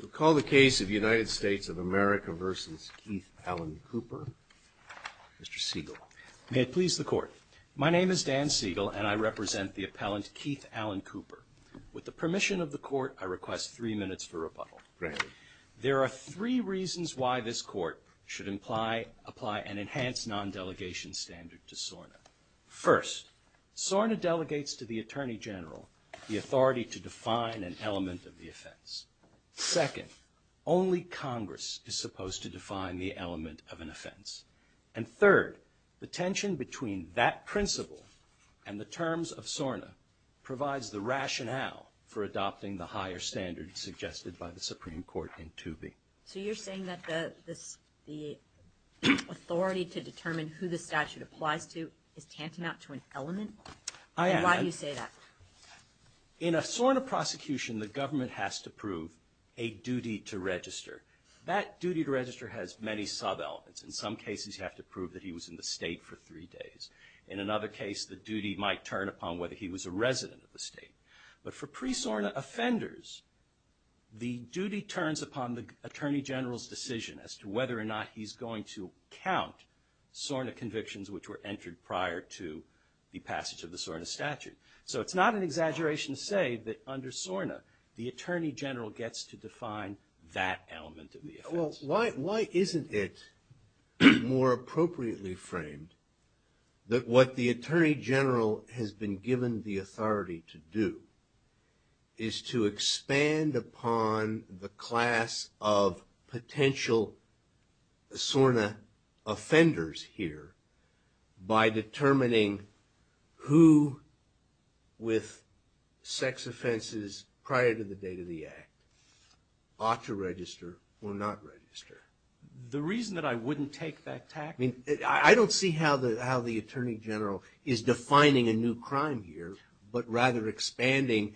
We'll call the case of United States of America v. Keith Allen Cooper, Mr. Siegel. May it please the Court. My name is Dan Siegel and I represent the appellant Keith Allen Cooper. With the permission of the Court, I request three minutes for rebuttal. Granted. There are three reasons why this Court should apply an enhanced non-delegation standard to SORNA. First, SORNA delegates to the Attorney General the authority to define an element of the offense. Second, only Congress is supposed to define the element of an offense. And third, the tension between that principle and the terms of SORNA provides the rationale for adopting the higher standard suggested by the Supreme Court in 2B. So you're saying that the authority to determine who the statute applies to is tantamount to an element? I am. Then why do you say that? In a SORNA prosecution, the government has to prove a duty to register. That duty to register has many sub-elements. In some cases, you have to prove that he was in the state for three days. In another case, the duty might turn upon whether he was a resident of the state. But for pre-SORNA offenders, the duty turns upon the Attorney General's decision as to whether or not he's going to count SORNA convictions which were entered prior to the passage of the SORNA statute. So it's not an exaggeration to say that under SORNA, the Attorney General gets to define that element of the offense. Why isn't it more appropriately framed that what the Attorney General has been given the duty to do is to expand upon the class of potential SORNA offenders here by determining who with sex offenses prior to the date of the act ought to register or not register? The reason that I wouldn't take that tactic... I don't see how the Attorney General is defining a new crime here, but rather expanding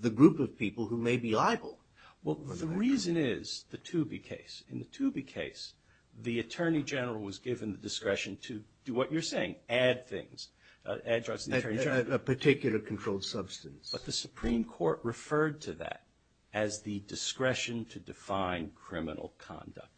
the group of people who may be liable. Well, the reason is the Toobie case. In the Toobie case, the Attorney General was given the discretion to do what you're saying, add things. Add drugs to the Attorney General. Add a particular controlled substance. But the Supreme Court referred to that as the discretion to define criminal conduct.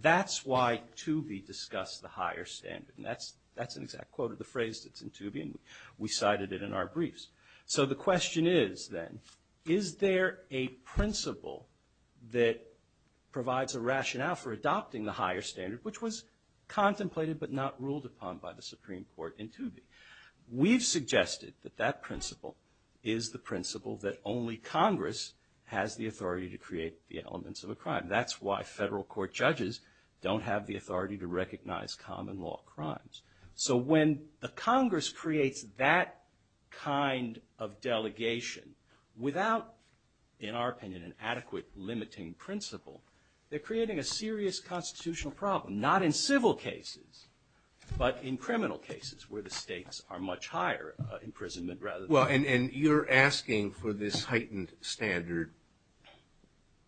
That's why Toobie discussed the higher standard. And that's an exact quote of the phrase that's in Toobie, and we cited it in our briefs. So the question is, then, is there a principle that provides a rationale for adopting the higher standard, which was contemplated but not ruled upon by the Supreme Court in Toobie? We've suggested that that principle is the principle that only Congress has the authority to create the elements of a crime. That's why federal court judges don't have the authority to recognize common law crimes. So when the Congress creates that kind of delegation without, in our opinion, an adequate limiting principle, they're creating a serious constitutional problem. Not in civil cases, but in criminal cases where the states are much higher imprisonment rather than... Well, and you're asking for this heightened standard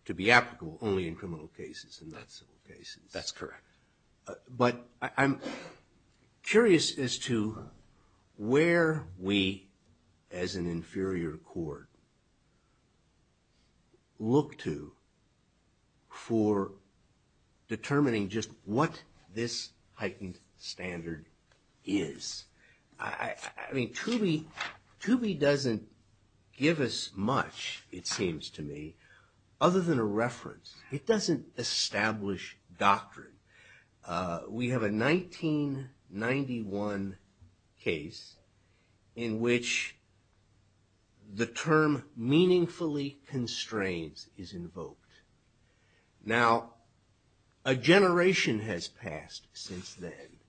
to be applicable only in criminal cases and not civil cases. That's correct. But I'm curious as to where we, as an inferior court, look to for determining just what this heightened standard is. I mean, Toobie doesn't give us much, it seems to me, other than a reference. It doesn't establish doctrine. We have a 1991 case in which the term meaningfully constrains is invoked. Now, a generation has passed since then.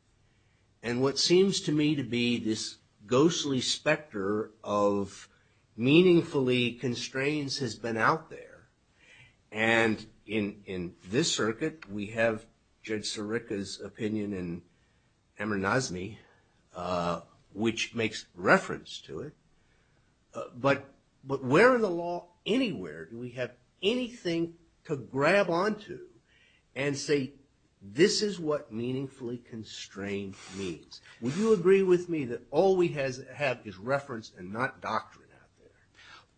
And what seems to me to be this ghostly specter of meaningfully constrains has been out there. And in this circuit, we have Judge Sirica's opinion in Amir Nazmi, which makes reference to it. But where in the law, anywhere, do we have anything to grab onto and say, this is what meaningfully constrain means? Would you agree with me that all we have is reference and not doctrine out there?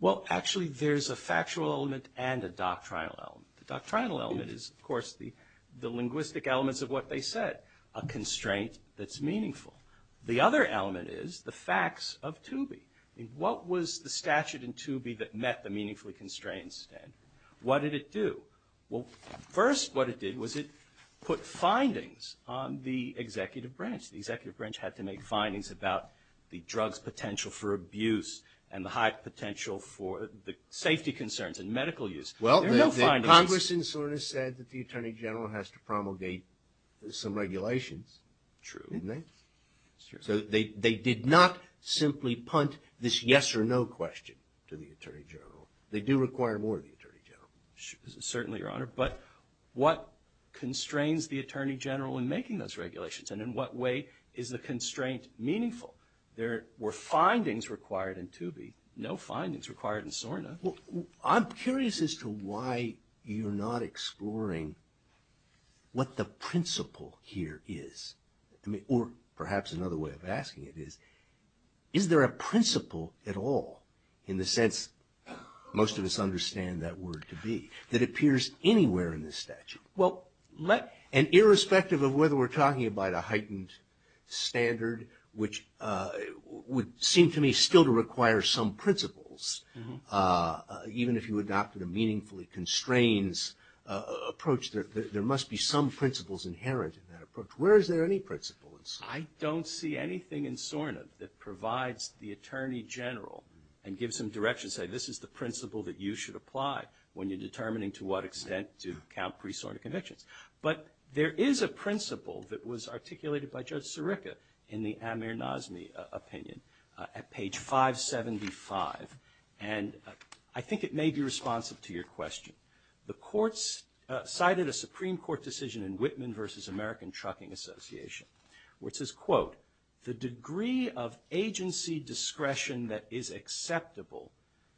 Well actually, there's a factual element and a doctrinal element. The doctrinal element is, of course, the linguistic elements of what they said, a constraint that's meaningful. The other element is the facts of Toobie. What was the statute in Toobie that met the meaningfully constrain standard? What did it do? Well, first, what it did was it put findings on the executive branch. The executive branch had to make findings about the drug's potential for abuse and the high potential for the safety concerns and medical use. Well, the congressman sort of said that the attorney general has to promulgate some regulations. True. Didn't they? So they did not simply punt this yes or no question to the attorney general. They do require more of the attorney general. Certainly, your honor, but what constrains the attorney general in making those regulations and in what way is the constraint meaningful? There were findings required in Toobie, no findings required in SORNA. I'm curious as to why you're not exploring what the principle here is, or perhaps another way of asking it is, is there a principle at all, in the sense most of us understand that word to be, that appears anywhere in the statute? And irrespective of whether we're talking about a heightened standard, which would seem to me still to require some principles, even if you adopted a meaningfully constrains approach, there must be some principles inherent in that approach. Where is there any principle in SORNA? I don't see anything in SORNA that provides the attorney general and gives him directions, say this is the principle that you should apply when you're determining to what extent to count pre-SORNA convictions. But there is a principle that was articulated by Judge Sirica in the Amir Nazmi opinion at page 575, and I think it may be responsive to your question. The courts cited a Supreme Court decision in Whitman v. American Trucking Association, where it says, quote, the degree of agency discretion that is acceptable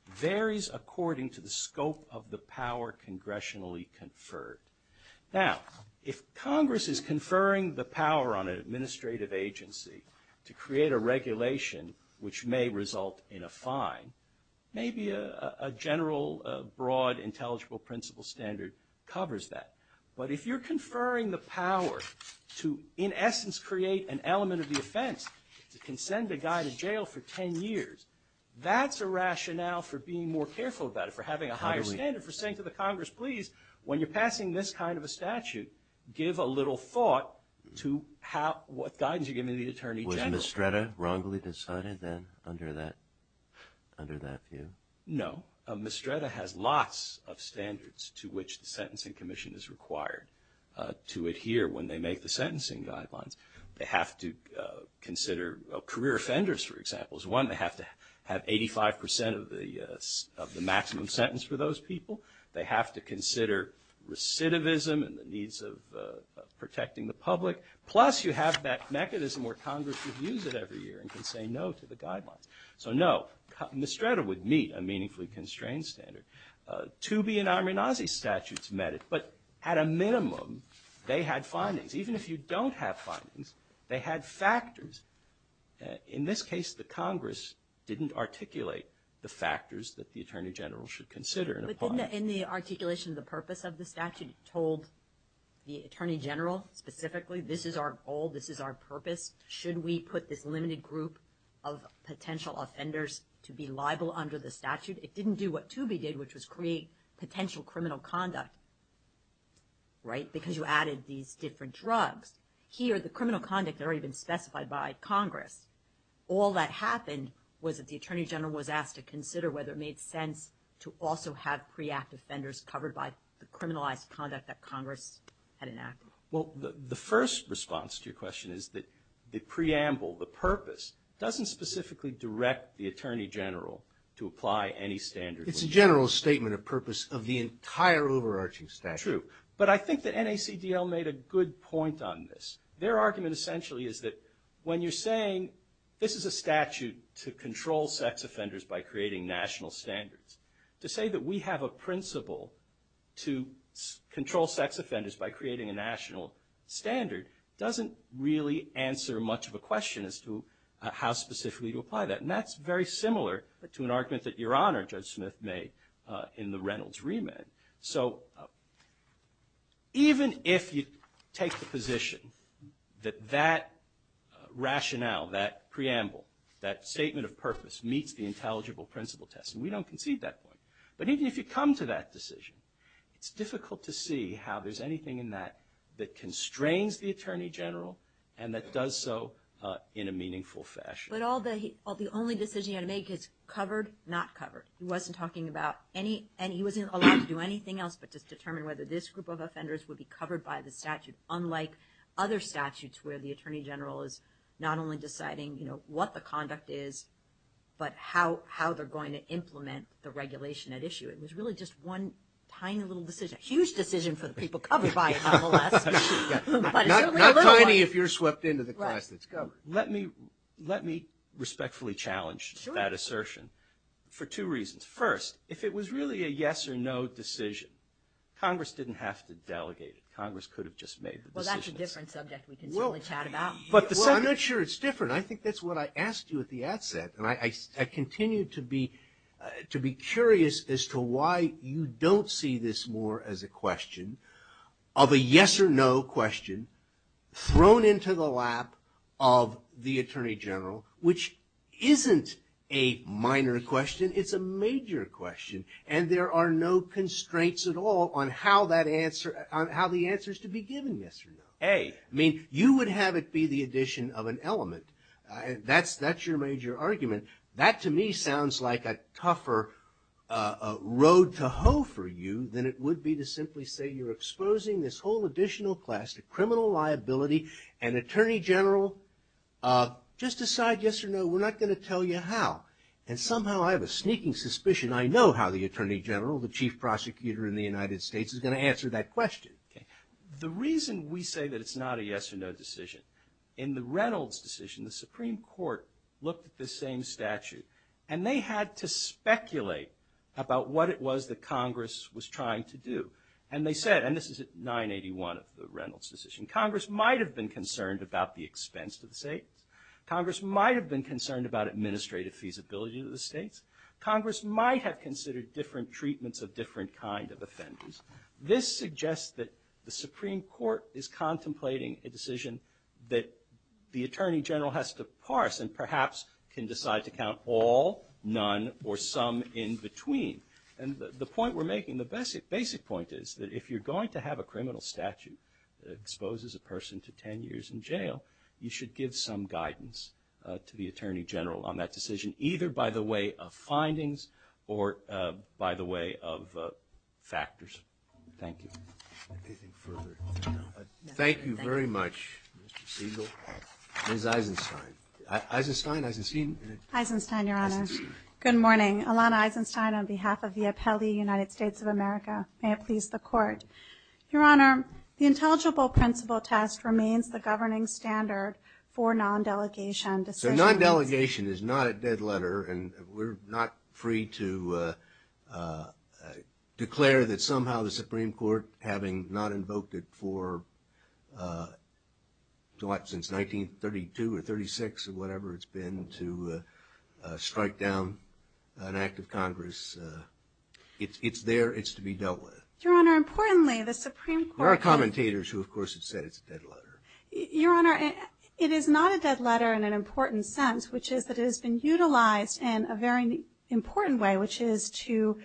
varies according to the scope of the power congressionally conferred. Now, if Congress is conferring the power on an administrative agency to create a regulation which may result in a fine, maybe a general, broad, intelligible principle standard covers that. But if you're conferring the power to, in essence, create an element of the offense, to consent a guy to jail for 10 years, that's a rationale for being more careful about it, for having a higher standard, for saying to the Congress, please, when you're passing this kind of a statute, give a little thought to how, what guidance you're giving the attorney general. Was Mistretta wrongly decided then, under that view? No. Mistretta has lots of standards to which the Sentencing Commission is required to adhere when they make the sentencing guidelines. They have to consider career offenders, for example, as one. They have to have 85 percent of the maximum sentence for those people. They have to consider recidivism and the needs of protecting the public. Plus, you have that mechanism where Congress reviews it every year and can say no to the guidelines. So, no, Mistretta would meet a meaningfully constrained standard. Toobie and Amirnazi statutes met it, but at a minimum, they had findings. Even if you don't have findings, they had factors. In this case, the Congress didn't articulate the factors that the attorney general should consider. But in the articulation of the purpose of the statute, it told the attorney general, specifically, this is our goal, this is our purpose, should we put this limited group of potential offenders to be liable under the statute? It didn't do what Toobie did, which was create potential criminal conduct, right? Because you added these different drugs. Here, the criminal conduct had already been specified by Congress. All that happened was that the attorney general was asked to consider whether it made sense to also have pre-act offenders covered by the criminalized conduct that Congress had enacted. Well, the first response to your question is that the preamble, the purpose, doesn't specifically direct the attorney general to apply any standard. It's a general statement of purpose of the entire overarching statute. True. But I think that NACDL made a good point on this. Their argument, essentially, is that when you're saying this is a statute to control sex offenders by creating national standards, to say that we have a principle to control sex offenders by creating a national standard doesn't really answer much of a question as to how specifically to apply that. And that's very similar to an argument that Your Honor, Judge Smith, made in the Reynolds remand. So even if you take the position that that rationale, that preamble, that statement of purpose meets the intelligible principle test, and we don't concede that point. But even if you come to that decision, it's difficult to see how there's anything in that that constrains the attorney general and that does so in a meaningful fashion. But all the, the only decision you had to make is covered, not covered. He wasn't talking about any, and he wasn't allowed to do anything else but just determine whether this group of offenders would be covered by the statute, unlike other statutes where the attorney general is not only deciding, you know, what the conduct is, but how, how they're going to implement the regulation at issue. It was really just one tiny little decision, a huge decision for the people covered by it, nonetheless. But it's only a little one. Not tiny if you're swept into the class that's covered. Let me, let me respectfully challenge that assertion for two reasons. First, if it was really a yes or no decision, Congress didn't have to delegate it. Congress could have just made the decision. Well, that's a different subject we can certainly chat about. But the second. Well, I'm not sure it's different. I think that's what I asked you at the outset. And I, I, I continue to be, to be curious as to why you don't see this more as a question of a yes or no question thrown into the lap of the attorney general, which isn't a minor question, it's a major question. And there are no constraints at all on how that answer, on how the answer is to be given yes or no. A, I mean, you would have it be the addition of an element. That's, that's your major argument. That to me sounds like a tougher road to hoe for you than it would be to simply say you're exposing this whole additional class to criminal liability and attorney general, just decide yes or no. We're not going to tell you how. And somehow I have a sneaking suspicion I know how the attorney general, the chief prosecutor in the United States, is going to answer that question. The reason we say that it's not a yes or no decision, in the Reynolds decision, the Supreme Court looked at the same statute and they had to speculate about what it was that Congress was trying to do. And they said, and this is at 981 of the Reynolds decision, Congress might have been concerned about the expense to the states. Congress might have been concerned about administrative feasibility to the states. Congress might have considered different treatments of different kind of offenders. This suggests that the Supreme Court is contemplating a decision that the attorney general has to parse and perhaps can decide to count all, none, or some in between. And the point we're making, the basic point is that if you're going to have a criminal statute that exposes a person to ten years in jail, you should give some guidance to the attorney general on that decision. Either by the way of findings or by the way of factors. Thank you. Thank you very much, Mr. Siegel. Ms. Eisenstein. Eisenstein, Eisenstein? Eisenstein, your honor. Good morning. Alana Eisenstein on behalf of the appellee United States of America. May it please the court. Your honor, the intelligible principle test remains the governing standard for non-delegation decisions. Non-delegation is not a dead letter, and we're not free to declare that somehow the Supreme Court, having not invoked it for, what, since 1932 or 36 or whatever it's been, to strike down an act of Congress, it's there, it's to be dealt with. Your honor, importantly, the Supreme Court- There are commentators who, of course, have said it's a dead letter. Your honor, it is not a dead letter in an important sense, which is that it has been utilized in a very important way, which is to,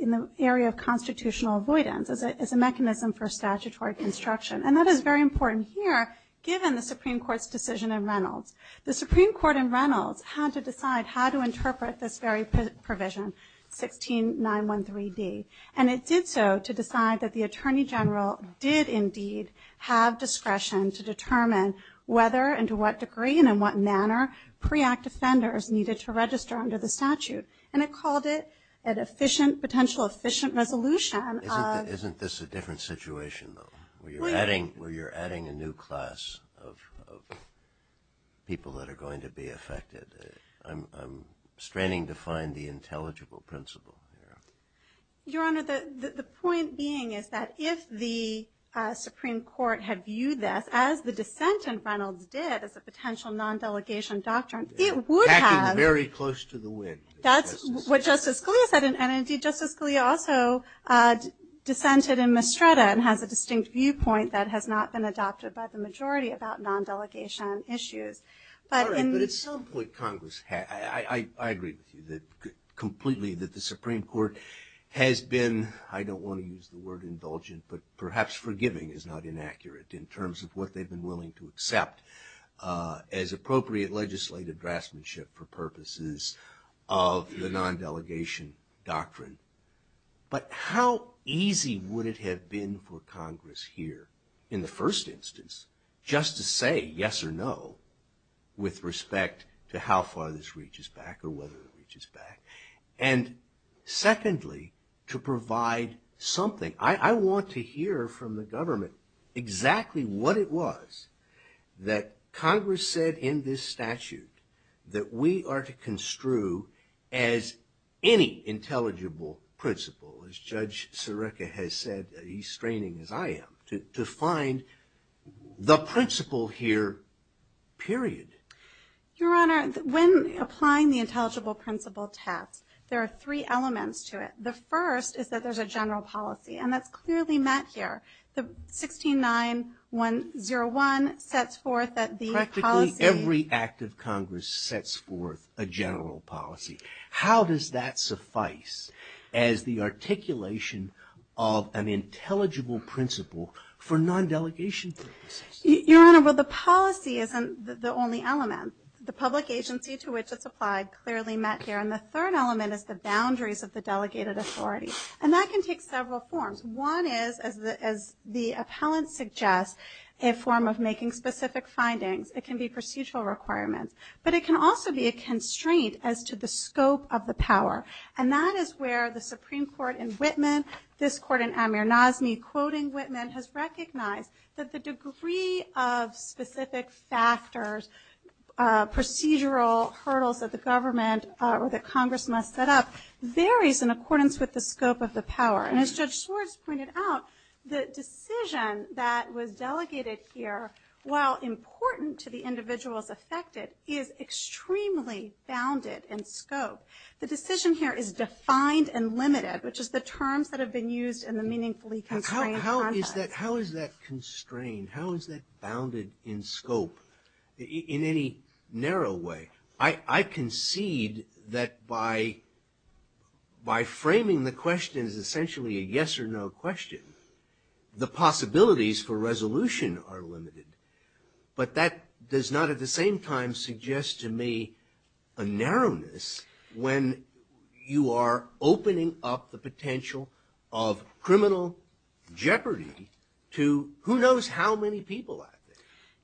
in the area of constitutional avoidance, as a mechanism for statutory construction. And that is very important here, given the Supreme Court's decision in Reynolds. The Supreme Court in Reynolds had to decide how to interpret this very provision, 16913D, and it did so to decide that the attorney general did indeed have discretion to determine whether and to what degree and in what manner pre-act offenders needed to register under the statute. And it called it an efficient, potential efficient resolution of- Isn't this a different situation, though, where you're adding a new class of people that are going to be affected? I'm straining to find the intelligible principle here. Your honor, the point being is that if the Supreme Court had viewed this as the dissent in Reynolds did, as a potential non-delegation doctrine, it would have- Packing very close to the wind. That's what Justice Scalia said, and indeed, Justice Scalia also dissented in Mastretta and has a distinct viewpoint that has not been adopted by the majority about non-delegation issues. But in- All right, but it's something that Congress had, I agree with you that completely that the Supreme Court has been, I don't want to use the word indulgent, but perhaps forgiving is not inaccurate in terms of what they've been willing to accept as appropriate legislative draftsmanship for purposes of the non-delegation doctrine. But how easy would it have been for Congress here, in the first instance, just to say yes or no with respect to how far this reaches back or whether it reaches back. And secondly, to provide something. I want to hear from the government exactly what it was that Congress said in this statute that we are to construe as any intelligible principle, as Judge Sirica has said, he's straining as I am, to find the principle here, period. Your Honor, when applying the intelligible principle test, there are three elements to it. The first is that there's a general policy, and that's clearly met here. The 169-101 sets forth that the policy- Practically every act of Congress sets forth a general policy. How does that suffice as the articulation of an intelligible principle for non-delegation purposes? Your Honor, well, the policy isn't the only element. The public agency to which it's applied clearly met here. And the third element is the boundaries of the delegated authority. And that can take several forms. One is, as the appellant suggests, a form of making specific findings. It can be procedural requirements. But it can also be a constraint as to the scope of the power. And that is where the Supreme Court in Whitman, this court in Amir Nazmi, quoting Whitman, has recognized that the degree of specific factors, procedural hurdles that the government or that Congress must set up, varies in accordance with the scope of the power. And as Judge Swartz pointed out, the decision that was delegated here, while important to the individuals affected, is extremely bounded in scope. The decision here is defined and limited, which is the terms that have been used in meaningfully constrained context. How is that constrained? How is that bounded in scope in any narrow way? I concede that by framing the question as essentially a yes or no question, the possibilities for resolution are limited. But that does not at the same time suggest to me a narrowness when you are bringing up the potential of criminal jeopardy to who knows how many people.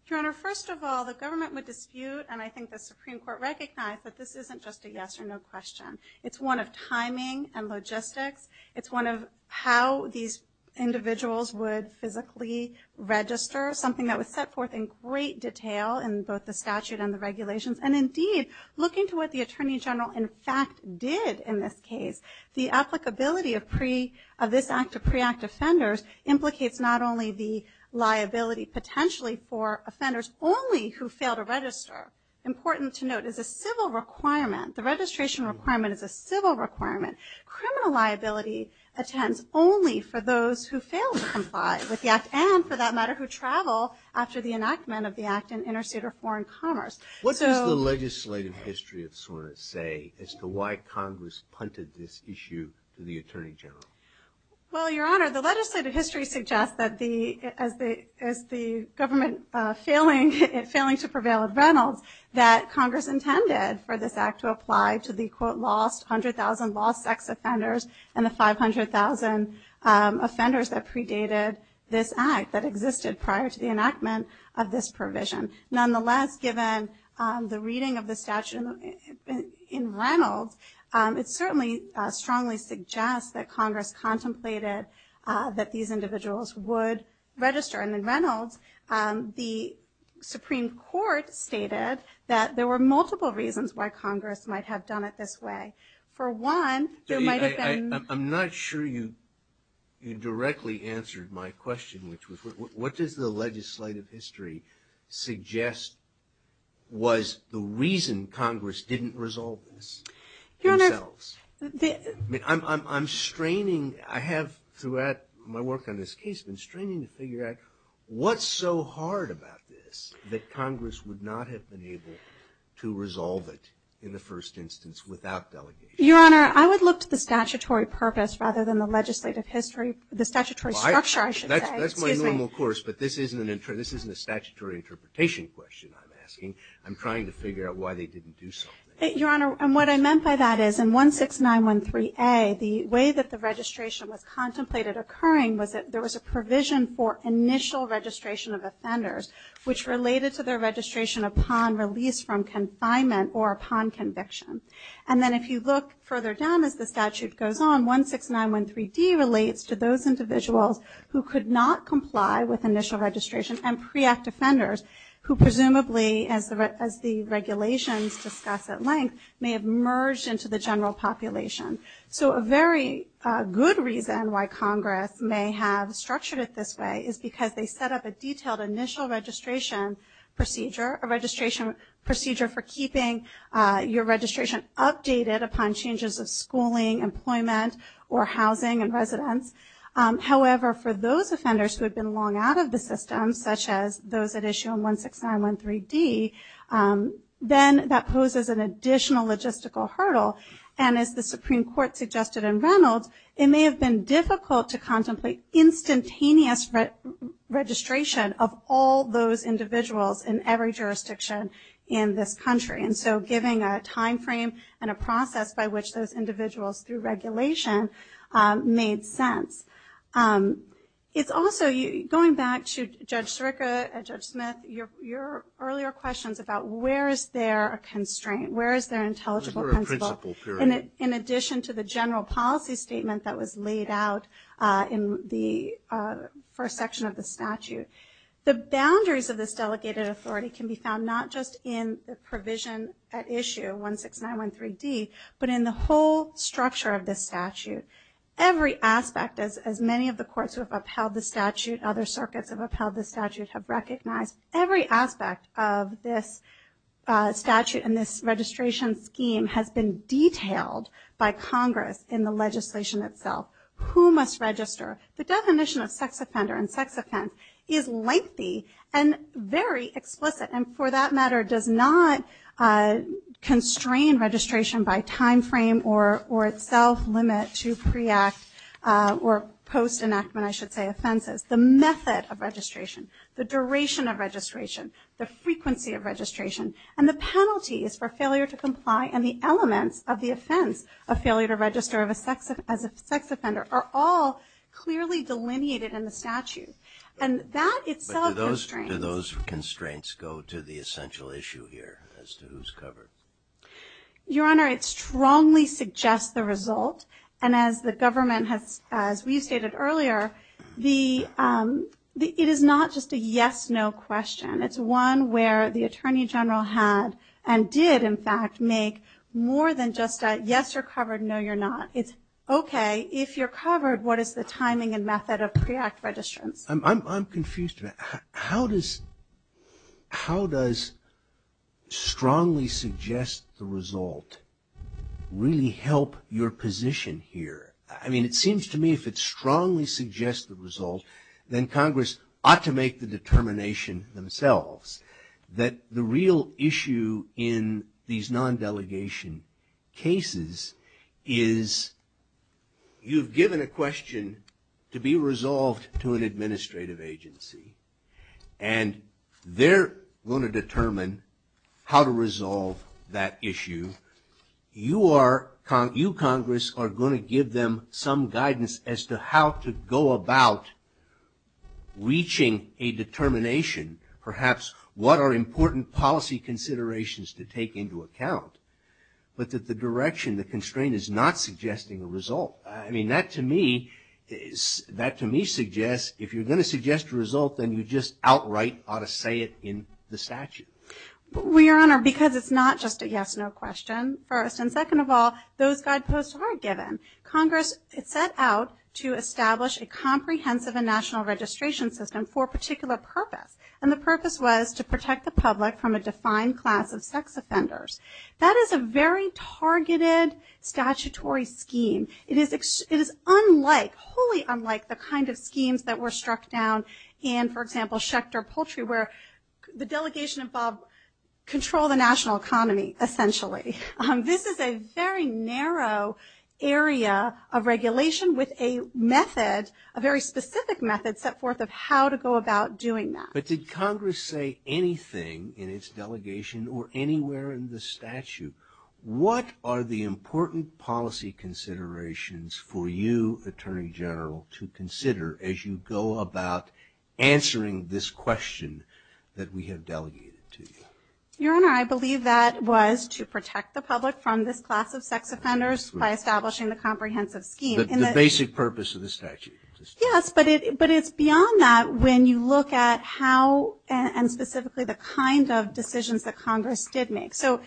Your Honor, first of all, the government would dispute, and I think the Supreme Court recognized that this isn't just a yes or no question. It's one of timing and logistics. It's one of how these individuals would physically register, something that was set forth in great detail in both the statute and the regulations. And indeed, looking to what the Attorney General in fact did in this case, the applicability of this act to pre-act offenders implicates not only the liability potentially for offenders only who fail to register, important to note, is a civil requirement. The registration requirement is a civil requirement. Criminal liability attends only for those who fail to comply with the act, and for that matter, who travel after the enactment of the act and intercede or foreign commerce. What does the legislative history of SORNA say as to why Congress punted this issue to the Attorney General? Well, Your Honor, the legislative history suggests that as the government failing to prevail at Reynolds, that Congress intended for this act to apply to the, quote, lost 100,000 lost sex offenders and the 500,000 offenders that predated this act, that existed prior to the enactment of this provision. Nonetheless, given the reading of the statute in Reynolds, it certainly strongly suggests that Congress contemplated that these individuals would register. And in Reynolds, the Supreme Court stated that there were multiple reasons why Congress might have done it this way. For one, there might have been- I'm not sure you directly answered my question, which was, what does the legislative history suggest was the reason Congress didn't resolve this themselves? I'm straining, I have, throughout my work on this case, been straining to figure out what's so hard about this that Congress would not have been able to resolve it in the first instance without delegation. Your Honor, I would look to the statutory purpose rather than the legislative history, the statutory structure, I should say. That's my normal course, but this isn't a statutory interpretation question I'm asking. I'm trying to figure out why they didn't do something. Your Honor, and what I meant by that is in 16913A, the way that the registration was contemplated occurring was that there was a provision for initial registration of offenders, which related to their registration upon release from confinement or upon conviction. And then if you look further down as the statute goes on, 16913D relates to those individuals who could not comply with initial registration and pre-act offenders who presumably, as the regulations discuss at length, may have merged into the general population. So a very good reason why Congress may have structured it this way is because they set up a detailed initial registration procedure, a registration procedure for keeping your registration updated upon changes of schooling, employment, or housing and residence. However, for those offenders who have been long out of the system, such as those at issue on 16913D, then that poses an additional logistical hurdle. And as the Supreme Court suggested in Reynolds, it may have been difficult to contemplate instantaneous registration of all those individuals in every jurisdiction in this country. And so giving a time frame and a process by which those individuals, through regulation, made sense. It's also, going back to Judge Sirica and Judge Smith, your earlier questions about where is there a constraint? Where is there an intelligible principle in addition to the general policy statement that was laid out in the first section of the statute? The boundaries of this delegated authority can be found not just in the provision at issue, 16913D, but in the whole structure of this statute. Every aspect, as many of the courts who have upheld the statute, other circuits who have upheld the statute, have recognized every aspect of this statute and this registration scheme has been detailed by Congress in the legislation itself. Who must register? The definition of sex offender and sex offense is lengthy and very explicit. And for that matter, does not constrain registration by time frame or itself limit to pre-act or post enactment, I should say, offenses. The method of registration, the duration of registration, the frequency of registration, and the penalties for failure to comply and the elements of the clearly delineated in the statute. And that itself constraints. But do those constraints go to the essential issue here as to who's covered? Your Honor, it strongly suggests the result. And as the government has, as we've stated earlier, it is not just a yes, no question. It's one where the Attorney General had and did, in fact, make more than just a yes, you're covered, no, you're not. It's, okay, if you're covered, what is the timing and method of pre-act registrants? I'm confused about that. How does strongly suggest the result really help your position here? I mean, it seems to me if it strongly suggests the result, then Congress ought to make the determination themselves that the real issue in these non-delegation cases is you've given a question to be resolved to an administrative agency. And they're going to determine how to resolve that issue. You Congress are going to give them some guidance as to how to go about reaching a determination, perhaps what are important policy considerations to take into account, but that the direction, the constraint is not suggesting a result. I mean, that to me, that to me suggests if you're going to suggest a result, then you just outright ought to say it in the statute. Well, Your Honor, because it's not just a yes, no question first. And second of all, those guideposts are given. Congress set out to establish a comprehensive and national registration system for a particular purpose. And the purpose was to protect the public from a defined class of sex offenders. That is a very targeted statutory scheme. It is unlike, wholly unlike the kind of schemes that were struck down in, for example, Schecter Poultry, where the delegation involved control the national economy, essentially. This is a very narrow area of regulation with a method, a very specific method set forth of how to go about doing that. But did Congress say anything in its delegation or anywhere in the statute? What are the important policy considerations for you, Attorney General, to consider as you go about answering this question that we have delegated to you? Your Honor, I believe that was to protect the public from this class of sex offenders by establishing the comprehensive scheme. The basic purpose of the statute. Yes, but it's beyond that when you look at how, and specifically the kind of decisions that Congress did make. So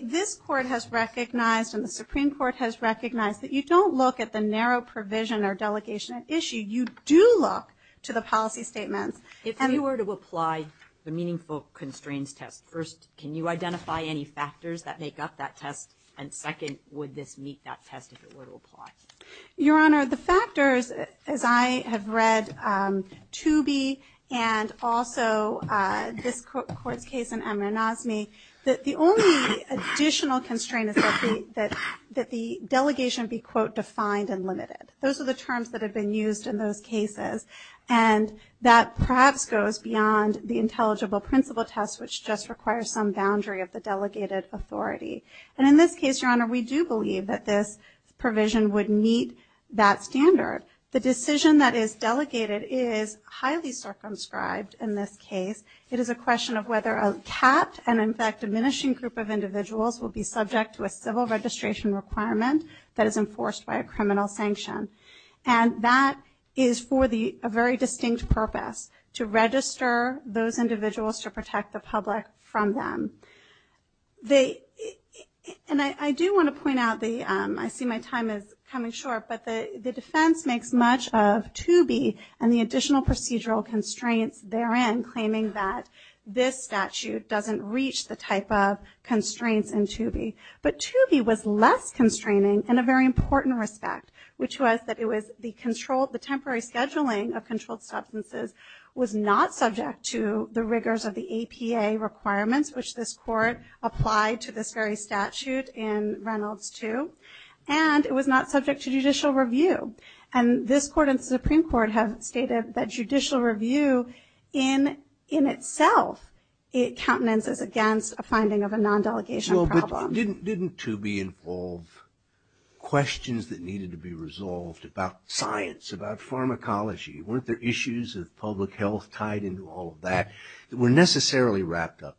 this court has recognized and the Supreme Court has recognized that you don't look at the narrow provision or delegation at issue, you do look to the policy statements. If you were to apply the meaningful constraints test, first, can you identify any factors that make up that test? And second, would this meet that test if it were to apply? Your Honor, the factors, as I have read, Tooby and also this court's case in Amir Nazmi, that the only additional constraint is that the delegation be, quote, defined and limited. Those are the terms that have been used in those cases. And that perhaps goes beyond the intelligible principle test, which just requires some boundary of the delegated authority. And in this case, Your Honor, we do believe that this provision would meet that standard. The decision that is delegated is highly circumscribed in this case. It is a question of whether a capped and in fact diminishing group of individuals will be subject to a civil registration requirement that is enforced by a criminal sanction. And that is for a very distinct purpose, to register those individuals to protect the public from them. And I do wanna point out the, I see my time is coming short, but the defense makes much of Tooby and the additional procedural constraints therein claiming that this statute doesn't reach the type of constraints in Tooby. But Tooby was less constraining in a very important respect, which was that it was the temporary scheduling of controlled substances was not subject to the rigors of the APA requirements, which this court applied to this very statute in Reynolds 2. And it was not subject to judicial review. And this court and the Supreme Court have stated that judicial review in itself, it countenances against a finding of a non-delegation problem. Didn't Tooby involve questions that needed to be resolved about science, about pharmacology? Weren't there issues of public health tied into all of that that were necessarily wrapped up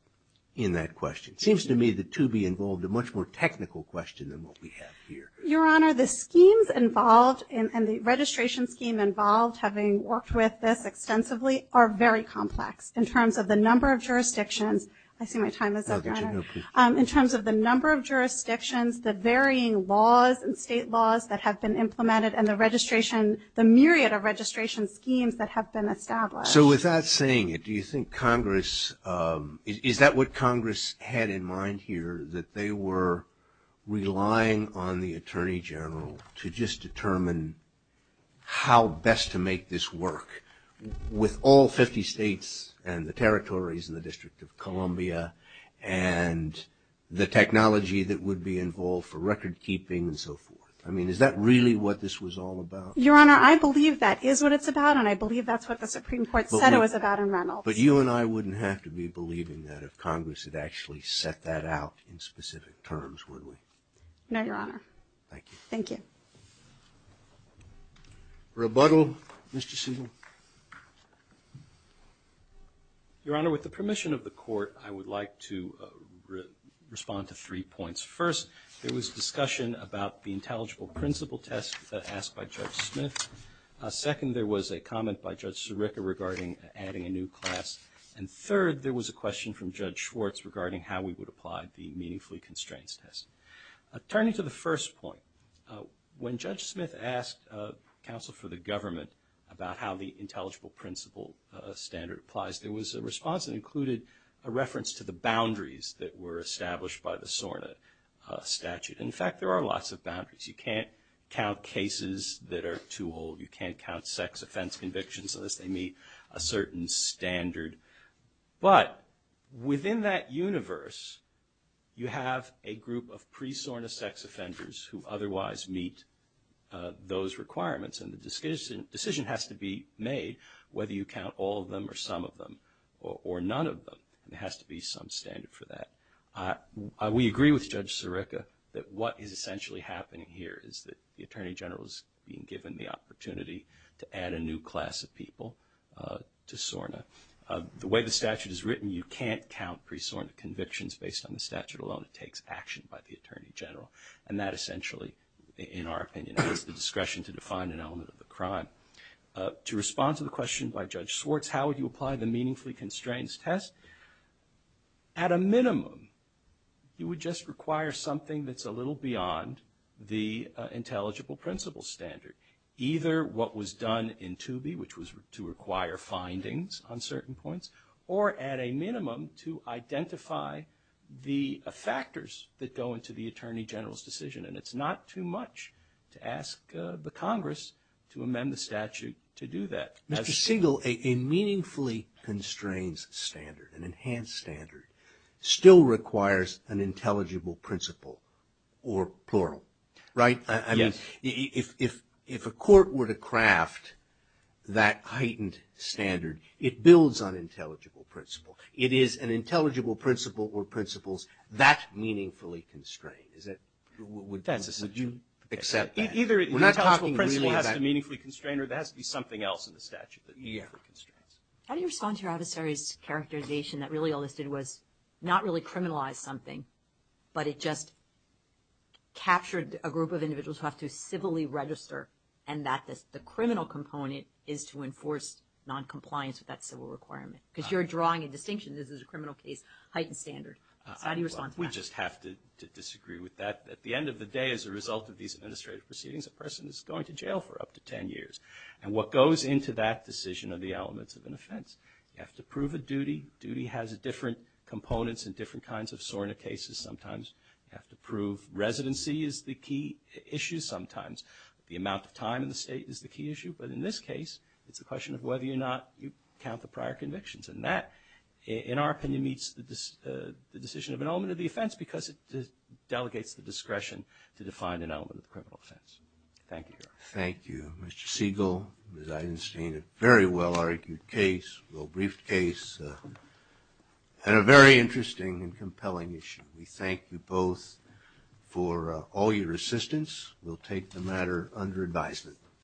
in that question? Seems to me that Tooby involved a much more technical question than what we have here. Your Honor, the schemes involved and the registration scheme involved, having worked with this extensively, are very complex in terms of the number of jurisdictions, I see my time is up, Your Honor, in terms of the number of jurisdictions, the varying laws and state laws that have been implemented, and the registration, the myriad of registration schemes that have been established. So with that saying it, do you think Congress, is that what Congress had in mind here, that they were relying on the Attorney General to just determine how best to make this work with all 50 states and the territories in the District of Columbia, and the technology that would be involved for record keeping and so forth? I mean, is that really what this was all about? Your Honor, I believe that is what it's about, and I believe that's what the Supreme Court said it was about in Reynolds. But you and I wouldn't have to be believing that if Congress had actually set that out in specific terms, would we? No, Your Honor. Thank you. Thank you. Rebuttal, Mr. Segal. Your Honor, with the permission of the Court, I would like to respond to three points. First, there was discussion about the intelligible principle test asked by Judge Smith. Second, there was a comment by Judge Sirica regarding adding a new class. And third, there was a question from Judge Schwartz regarding how we would apply the meaningfully constraints test. Turning to the first point, when Judge Smith asked counsel for the government about how the intelligible principle standard applies, there was a response that included a reference to the boundaries that were established by the SORNA statute. In fact, there are lots of boundaries. You can't count cases that are too old. You can't count sex offense convictions unless they meet a certain standard. But within that universe, you have a group of pre-SORNA sex offenders who otherwise meet those requirements. And the decision has to be made whether you count all of them or some of them or none of them. There has to be some standard for that. We agree with Judge Sirica that what is essentially happening here is that the Attorney General is being given the opportunity to add a new class of people to SORNA. The way the statute is written, you can't count pre-SORNA convictions based on the statute alone. It takes action by the Attorney General. And that essentially, in our opinion, is the discretion to define an element of the crime. To respond to the question by Judge Schwartz, how would you apply the meaningfully constrained test? At a minimum, you would just require something that's a little beyond the intelligible principle standard, either what was done in Toobie, which was to require findings on certain points, or at a minimum, to identify the factors that go into the Attorney General's decision. And it's not too much to ask the Congress to amend the statute to do that. Mr. Siegel, a meaningfully constrained standard, an enhanced standard, still requires an intelligible principle, or plural, right? I mean, if a court were to craft that heightened standard, it builds on intelligible principle. It is an intelligible principle or principles that meaningfully constrain. Is that, would you accept that? Either the intelligible principle has to meaningfully constrain, or there has to be something else in the statute that meaningfully constrains. How do you respond to your adversary's characterization that really all this did was not really criminalize something, but it just captured a group of individuals who have to civilly register, and that the criminal component is to enforce noncompliance with that civil requirement? Because you're drawing a distinction. This is a criminal case, heightened standard. How do you respond to that? We just have to disagree with that. At the end of the day, as a result of these administrative proceedings, a person is going to jail for up to 10 years. And what goes into that decision are the elements of an offense. You have to prove a duty. Duty has different components in different kinds of SORNA cases. Sometimes you have to prove residency is the key issue. Sometimes the amount of time in the state is the key issue. But in this case, it's a question of whether or not you count the prior convictions. And that, in our opinion, meets the decision of an element of the offense, because it delegates the discretion to define an element of the criminal offense. Thank you, Your Honor. Thank you, Mr. Siegel, Ms. Eisenstein. A very well-argued case, well-briefed case, and a very interesting and compelling issue. We thank you both for all your assistance. We'll take the matter under advisement.